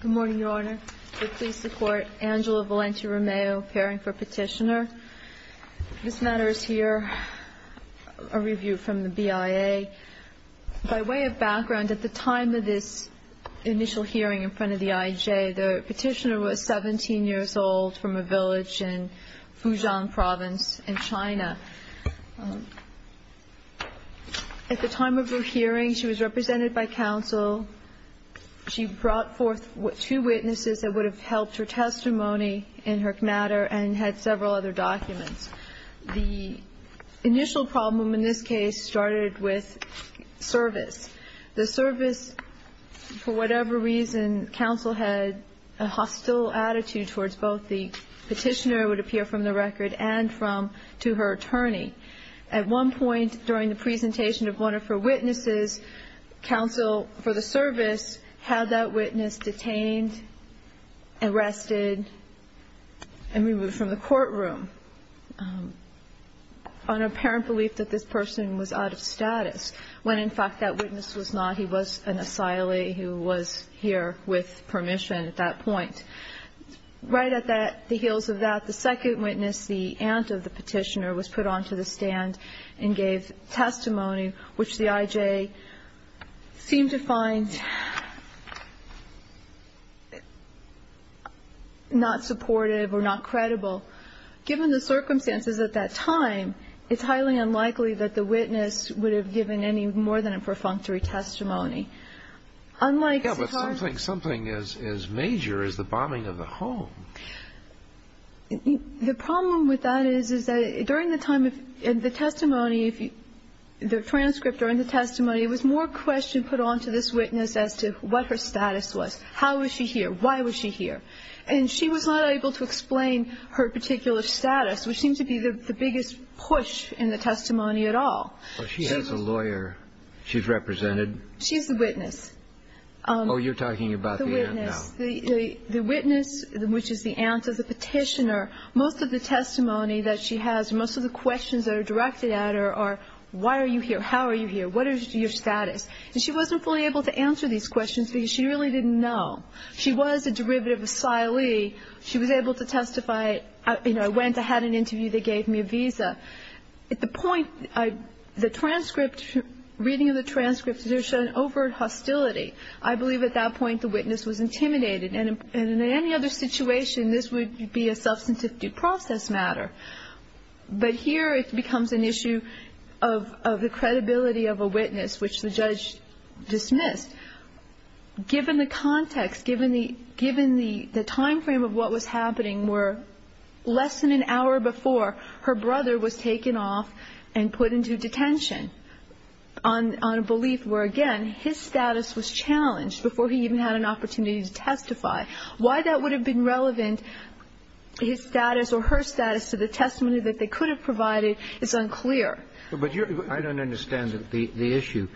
Good morning, Your Honor. We please support Angela Valenti-Romeo appearing for petitioner. This matter is here, a review from the BIA. By way of background, at the time of this initial hearing in front of the IJ, the petitioner was 17 years old from a village in Fujian province in China. At the time of her hearing, she was represented by counsel. She brought forth two witnesses that would have helped her testimony in her matter and had several other documents. The initial problem in this case started with service. The service, for whatever reason, counsel had a hostile attitude towards both the petitioner, it would appear, from the record, and from to her attorney. At one point during the presentation of one of her witnesses, counsel for the service had that witness detained, arrested, and removed from the courtroom on apparent belief that this person was out of status, when in fact that witness was not. He was an asylee who was here with permission at that point. Right at the heels of that, the second witness, the aunt of the petitioner, was put onto the stand and gave testimony, which the IJ seemed to find not supportive or not credible. Given the circumstances at that time, it's highly unlikely that the witness would have given any more than a perfunctory testimony. Yeah, but something as major as the bombing of the home. The problem with that is that during the time of the testimony, the transcript during the testimony, it was more question put onto this witness as to what her status was. How was she here? Why was she here? And she was not able to explain her particular status, which seemed to be the biggest push in the testimony at all. She has a lawyer she's represented. She's the witness. Oh, you're talking about the aunt now. The witness, which is the aunt of the petitioner, most of the testimony that she has, most of the questions that are directed at her are why are you here? How are you here? What is your status? And she wasn't fully able to answer these questions because she really didn't know. She was a derivative asylee. She was able to testify. You know, I went. I had an interview. They gave me a visa. At the point, the transcript, reading of the transcript, there's an overt hostility. I believe at that point the witness was intimidated. And in any other situation, this would be a substantive due process matter. But here it becomes an issue of the credibility of a witness, which the judge dismissed. Given the context, given the timeframe of what was happening, where less than an hour before, her brother was taken off and put into detention on a belief where, again, his status was challenged before he even had an opportunity to testify. Why that would have been relevant, his status or her status, to the testimony that they could have provided is unclear. But I don't understand the issue.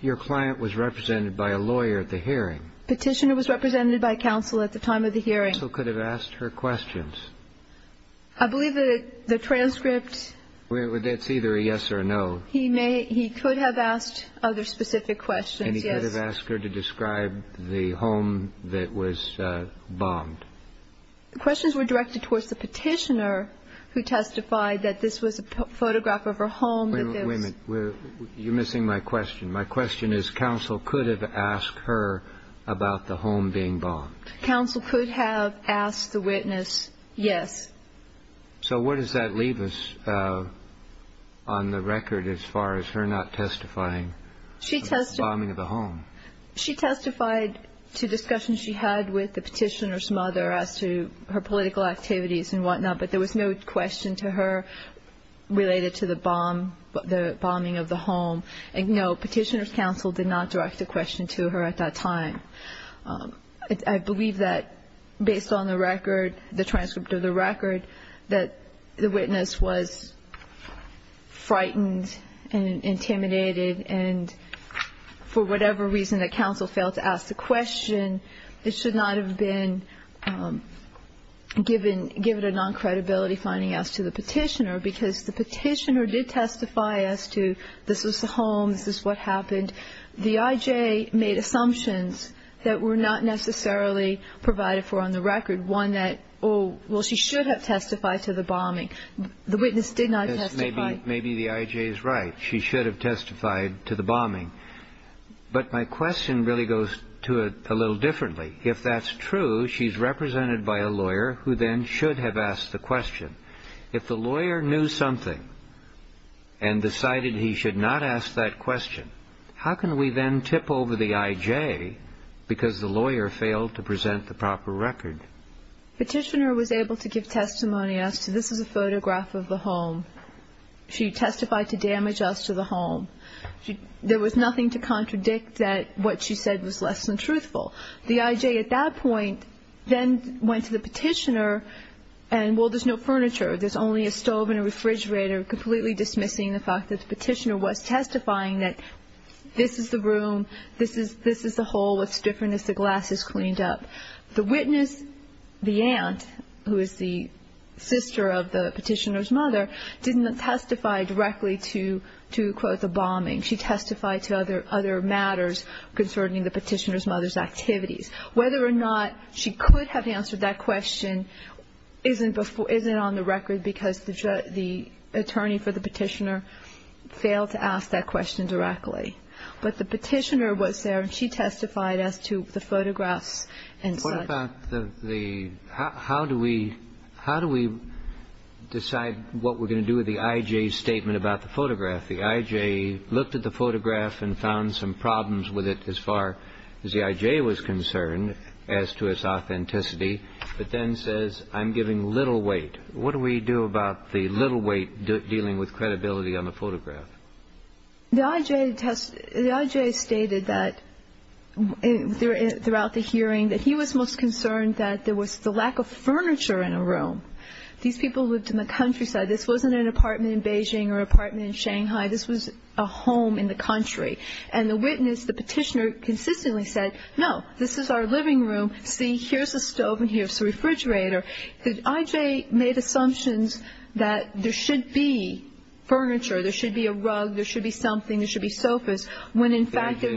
Your client was represented by a lawyer at the hearing. Petitioner was represented by counsel at the time of the hearing. Counsel could have asked her questions. I believe that the transcript. It's either a yes or a no. He could have asked other specific questions, yes. And he could have asked her to describe the home that was bombed. The questions were directed towards the petitioner who testified that this was a photograph of her home. Wait a minute. You're missing my question. My question is counsel could have asked her about the home being bombed. Counsel could have asked the witness yes. So where does that leave us on the record as far as her not testifying about the bombing of the home? She testified to discussions she had with the petitioner's mother as to her political activities and whatnot, but there was no question to her related to the bombing of the home. No, petitioner's counsel did not direct a question to her at that time. I believe that based on the record, the transcript of the record, that the witness was frightened and intimidated, and for whatever reason that counsel failed to ask the question, it should not have been given a non-credibility finding as to the petitioner, because the petitioner did testify as to this was the home, this is what happened. And the I.J. made assumptions that were not necessarily provided for on the record, one that, oh, well, she should have testified to the bombing. The witness did not testify. Maybe the I.J. is right. She should have testified to the bombing. But my question really goes to it a little differently. If that's true, she's represented by a lawyer who then should have asked the question. If the lawyer knew something and decided he should not ask that question, how can we then tip over the I.J. because the lawyer failed to present the proper record? Petitioner was able to give testimony as to this is a photograph of the home. She testified to damage us to the home. There was nothing to contradict that what she said was less than truthful. The I.J. at that point then went to the petitioner and, well, there's no furniture. There's only a stove and a refrigerator, completely dismissing the fact that the petitioner was testifying that this is the room, this is the hole, what's different is the glass is cleaned up. The witness, the aunt, who is the sister of the petitioner's mother, didn't testify directly to, quote, the bombing. She testified to other matters concerning the petitioner's mother's activities. Whether or not she could have answered that question isn't on the record because the attorney for the petitioner failed to ask that question directly. But the petitioner was there and she testified as to the photographs and such. What about the how do we decide what we're going to do with the I.J.'s statement about the photograph? The I.J. looked at the photograph and found some problems with it as far as the I.J. was concerned as to its authenticity, but then says, I'm giving little weight. What do we do about the little weight dealing with credibility on the photograph? The I.J. stated that throughout the hearing that he was most concerned that there was the lack of furniture in a room. These people lived in the countryside. This wasn't an apartment in Beijing or an apartment in Shanghai. This was a home in the country. And the witness, the petitioner, consistently said, no, this is our living room. See, here's a stove and here's a refrigerator. The I.J. made assumptions that there should be furniture. There should be a rug. There should be something. There should be sofas. When in fact there is not.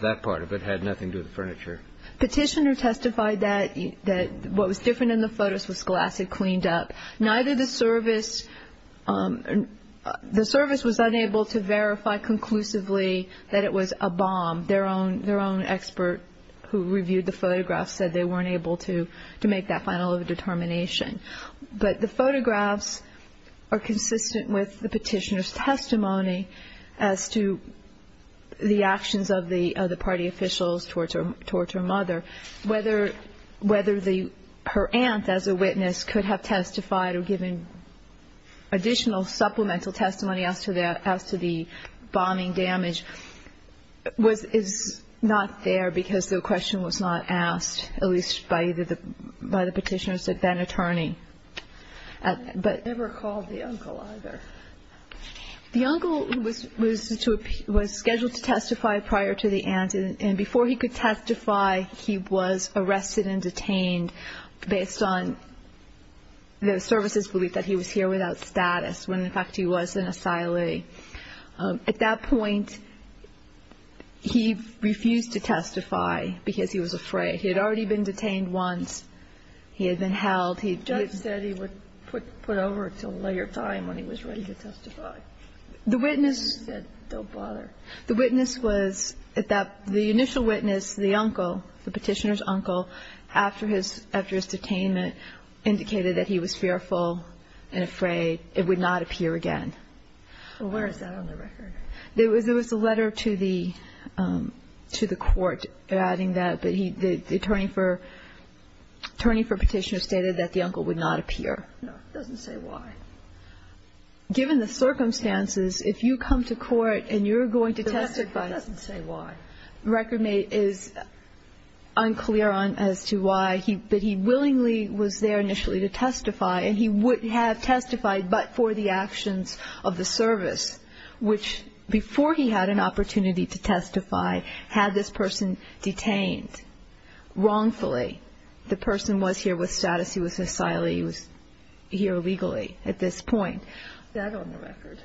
That part of it had nothing to do with furniture. Petitioner testified that what was different in the photos was glass had cleaned up. Neither the service was unable to verify conclusively that it was a bomb. Their own expert who reviewed the photograph said they weren't able to make that final determination. But the photographs are consistent with the petitioner's testimony as to the actions of the party officials towards her mother. Whether her aunt as a witness could have testified or given additional supplemental testimony as to the bombing damage is not there because the question was not asked, at least by the petitioner's then-attorney. They never called the uncle either. The uncle was scheduled to testify prior to the aunt. And before he could testify, he was arrested and detained based on the service's belief that he was here without status, when in fact he was an asylee. At that point, he refused to testify because he was afraid. He had already been detained once. He had been held. The judge said he would put over until later time when he was ready to testify. The witness said don't bother. The witness was at that the initial witness, the uncle, the petitioner's uncle, after his detainment indicated that he was fearful and afraid it would not appear again. Well, where is that on the record? There was a letter to the court adding that the attorney for petitioner stated that the uncle would not appear. No, it doesn't say why. Given the circumstances, if you come to court and you're going to testify. It doesn't say why. The record is unclear as to why, but he willingly was there initially to testify, and he would have testified but for the actions of the service, which before he had an opportunity to testify had this person detained wrongfully. The person was here with status. He was an asylee. He was here illegally at this point. Is that on the record?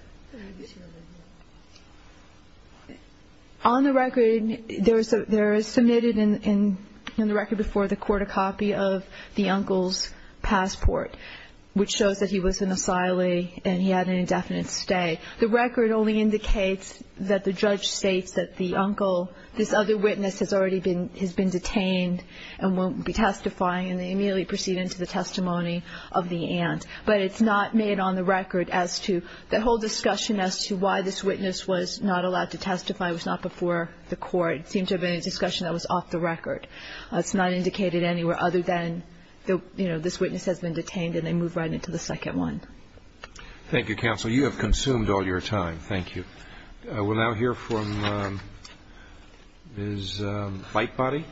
On the record, there is submitted in the record before the court a copy of the uncle's passport, which shows that he was an asylee and he had an indefinite stay. The record only indicates that the judge states that the uncle, this other witness has already been detained and won't be testifying, and they immediately proceed into the testimony of the aunt. But it's not made on the record as to the whole discussion as to why this witness was not allowed to testify, was not before the court. It seemed to have been a discussion that was off the record. It's not indicated anywhere other than, you know, this witness has been detained and they move right into the second one. Thank you, counsel. You have consumed all your time. Thank you. We'll now hear from Ms. Lightbody.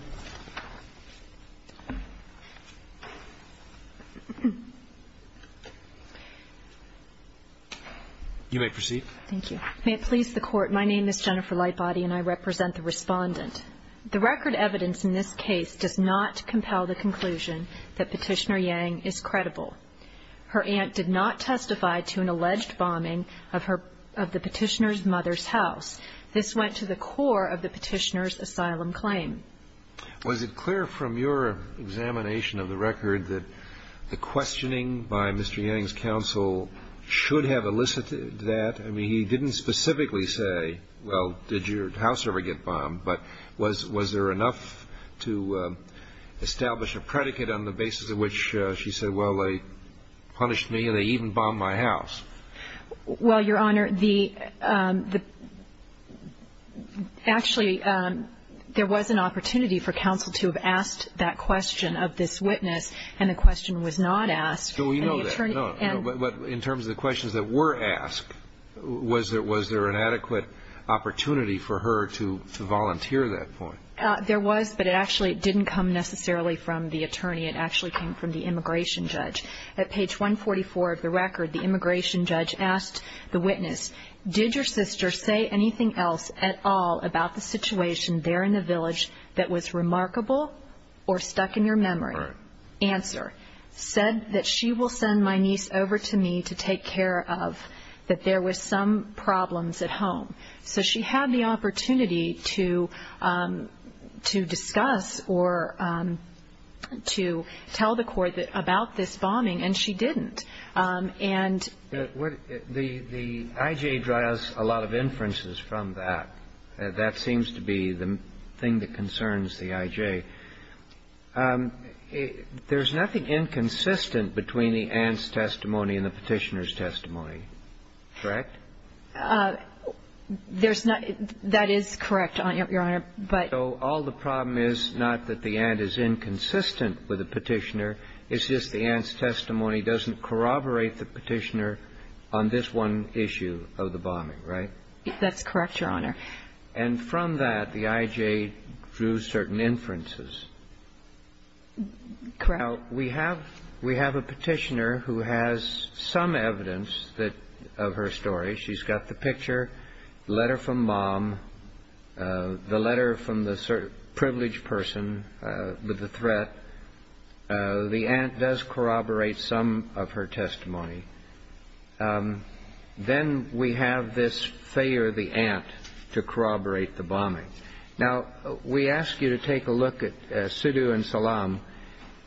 You may proceed. Thank you. May it please the Court, my name is Jennifer Lightbody and I represent the respondent. The record evidence in this case does not compel the conclusion that Petitioner Yang is credible. Her aunt did not testify to an alleged bombing of the Petitioner's mother's house. This went to the core of the Petitioner's asylum claim. Was it clear from your examination of the record that the questioning by Mr. Yang's counsel should have elicited that? I mean, he didn't specifically say, well, did your house ever get bombed, but was there enough to establish a predicate on the basis of which she said, well, they punished me and they even bombed my house? Well, Your Honor, the actually there was an opportunity for counsel to have asked that question of this witness and the question was not asked. No, we know that. In terms of the questions that were asked, was there an adequate opportunity for her to volunteer that point? There was, but it actually didn't come necessarily from the attorney. It actually came from the immigration judge. At page 144 of the record, the immigration judge asked the witness, did your sister say anything else at all about the situation there in the village that was remarkable or stuck in your memory? Answer. She said that she will send my niece over to me to take care of, that there was some problems at home. So she had the opportunity to discuss or to tell the court about this bombing, and she didn't. And the I.J. draws a lot of inferences from that. That seems to be the thing that concerns the I.J. There's nothing inconsistent between the aunt's testimony and the Petitioner's testimony, correct? There's not. That is correct, Your Honor. So all the problem is not that the aunt is inconsistent with the Petitioner. It's just the aunt's testimony doesn't corroborate the Petitioner on this one issue of the bombing, right? That's correct, Your Honor. And from that, the I.J. drew certain inferences. Correct. Now, we have a Petitioner who has some evidence that of her story. She's got the picture, the letter from mom, the letter from the privileged person with the threat. The aunt does corroborate some of her testimony. Then we have this failure of the aunt to corroborate the bombing. Now, we ask you to take a look at Sudu and Salam.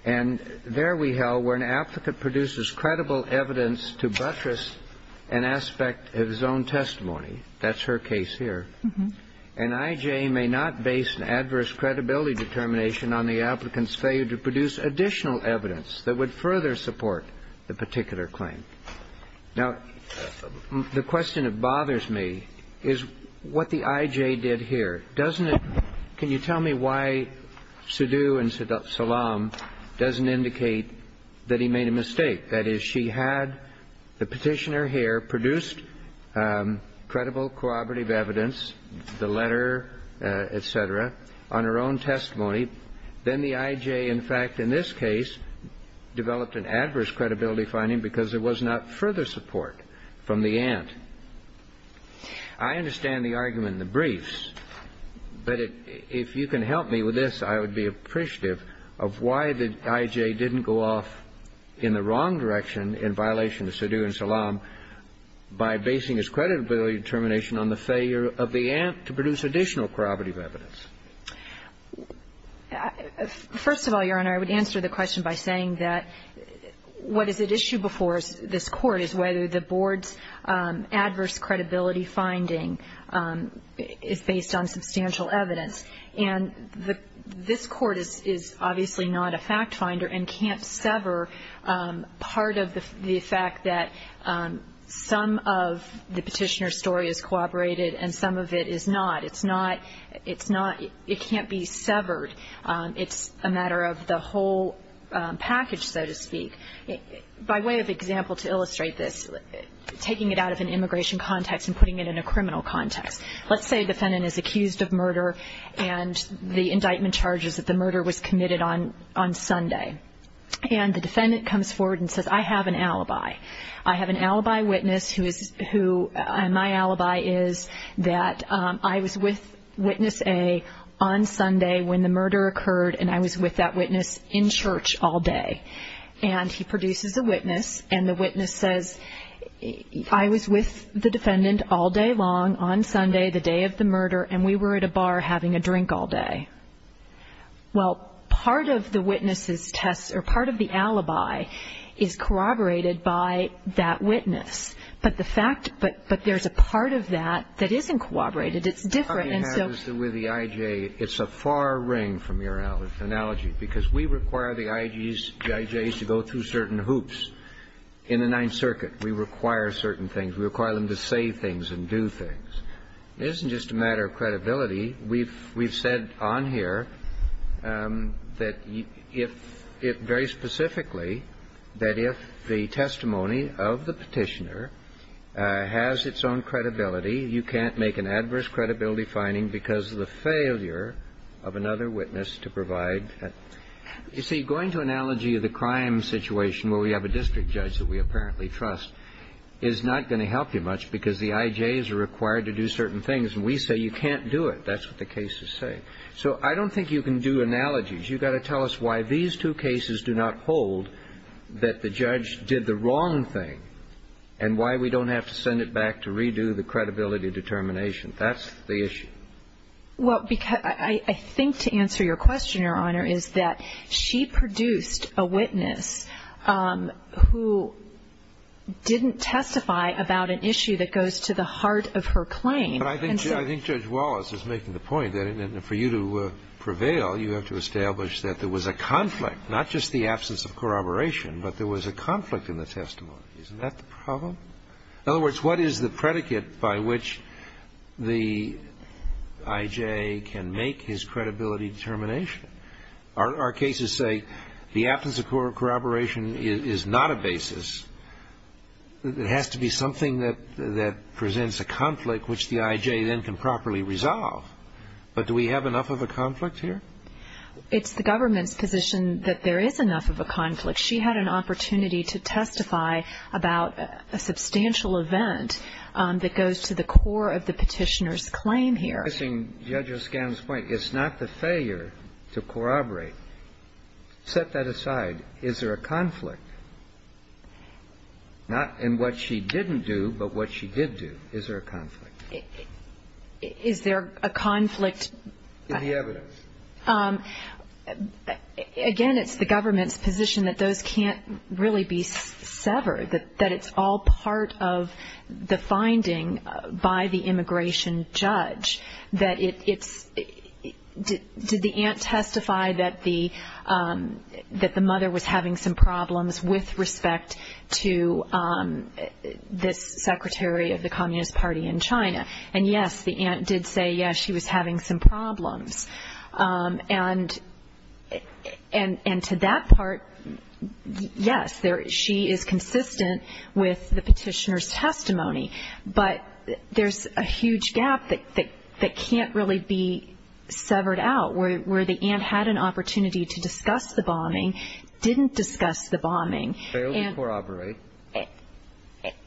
And there we have where an applicant produces credible evidence to buttress an aspect of his own testimony. That's her case here. And I.J. may not base an adverse credibility determination on the applicant's Now, the question that bothers me is what the I.J. did here. Doesn't it – can you tell me why Sudu and Salam doesn't indicate that he made a mistake? That is, she had the Petitioner here produced credible corroborative evidence, the letter, et cetera, on her own testimony. Then the I.J., in fact, in this case, developed an adverse credibility finding because there was not further support from the aunt. I understand the argument in the briefs, but if you can help me with this, I would be appreciative of why the I.J. didn't go off in the wrong direction in violation of Sudu and Salam by basing his credibility determination on the failure of the aunt to produce additional corroborative evidence. First of all, Your Honor, I would answer the question by saying that what is at issue before this Court is whether the Board's adverse credibility finding is based on substantial evidence. And this Court is obviously not a fact finder and can't sever part of the fact that some of the Petitioner's story is corroborated and some of it is not. It's not, it can't be severed. It's a matter of the whole package, so to speak. By way of example to illustrate this, taking it out of an immigration context and putting it in a criminal context. Let's say a defendant is accused of murder and the indictment charges that the murder was committed on Sunday. And the defendant comes forward and says, I have an alibi. I have an alibi witness who my alibi is that I was with witness A on Sunday when the murder occurred and I was with that witness in church all day. And he produces a witness and the witness says, I was with the defendant all day long on Sunday, the day of the murder, and we were at a bar having a drink all day. Well, part of the witness's test or part of the alibi is corroborated by that witness. But the fact, but there's a part of that that isn't corroborated. It's different and so. What you have with the IJ, it's a far ring from your analogy because we require the IJs to go through certain hoops. In the Ninth Circuit, we require certain things. We require them to say things and do things. It isn't just a matter of credibility. We've said on here that if, very specifically, that if the testimony of the Petitioner has its own credibility, you can't make an adverse credibility finding because of the failure of another witness to provide that. You see, going to analogy of the crime situation where we have a district judge that we apparently trust is not going to help you much because the IJs are required to do certain things and we say you can't do it. That's what the case is saying. So I don't think you can do analogies. You've got to tell us why these two cases do not hold that the judge did the wrong thing and why we don't have to send it back to redo the credibility determination. That's the issue. Well, because I think to answer your question, Your Honor, is that she produced a witness who didn't testify about an issue that goes to the heart of her claim. But I think Judge Wallace is making the point that for you to prevail, you have to establish that there was a conflict, not just the absence of corroboration, but there was a conflict in the testimony. Isn't that the problem? In other words, what is the predicate by which the IJ can make his credibility determination? Our cases say the absence of corroboration is not a basis. It has to be something that presents a conflict which the IJ then can properly resolve. But do we have enough of a conflict here? It's the government's position that there is enough of a conflict. She had an opportunity to testify about a substantial event that goes to the core of the petitioner's claim here. It's not the failure to corroborate. Set that aside. Is there a conflict? Not in what she didn't do, but what she did do. Is there a conflict? Is there a conflict? In the evidence. Again, it's the government's position that those can't really be severed, that it's all part of the finding by the immigration judge. Did the aunt testify that the mother was having some problems with respect to this secretary of the Communist Party in China? And, yes, the aunt did say, yes, she was having some problems. And to that part, yes, she is consistent with the petitioner's testimony. But there's a huge gap that can't really be severed out, where the aunt had an opportunity to discuss the bombing, didn't discuss the bombing. Failed to corroborate.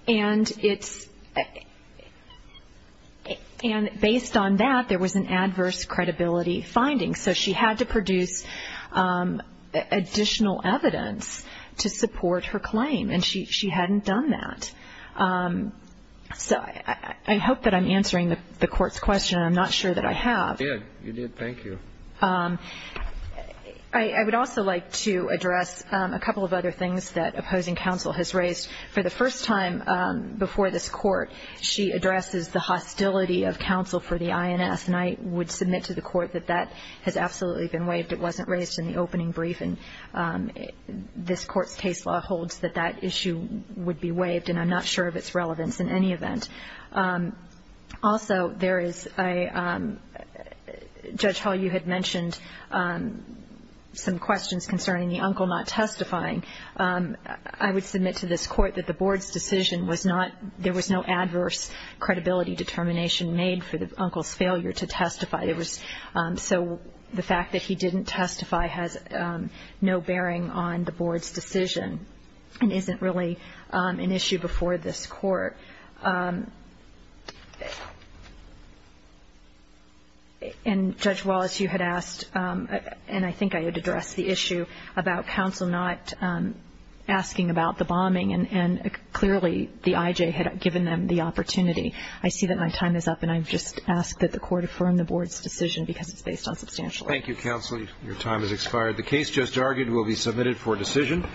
And it's – and based on that, there was an adverse credibility finding. So she had to produce additional evidence to support her claim, and she hadn't done that. So I hope that I'm answering the Court's question. I'm not sure that I have. You did. You did. Thank you. I would also like to address a couple of other things that opposing counsel has raised. For the first time before this Court, she addresses the hostility of counsel for the INS, and I would submit to the Court that that has absolutely been waived. It wasn't raised in the opening brief, and this Court's case law holds that that issue would be waived, and I'm not sure of its relevance in any event. Also, there is a – Judge Hall, you had mentioned some questions concerning the uncle not testifying. I would submit to this Court that the Board's decision was not – there was no adverse credibility determination made for the uncle's failure to testify. There was – so the fact that he didn't testify has no bearing on the Board's decision and isn't really an issue before this Court. And Judge Wallace, you had asked, and I think I had addressed the issue about counsel not asking about the bombing, and clearly the IJ had given them the opportunity. I see that my time is up, and I just ask that the Court affirm the Board's decision because it's based on substantial evidence. Thank you, counsel. Your time has expired. The case just argued will be submitted for decision.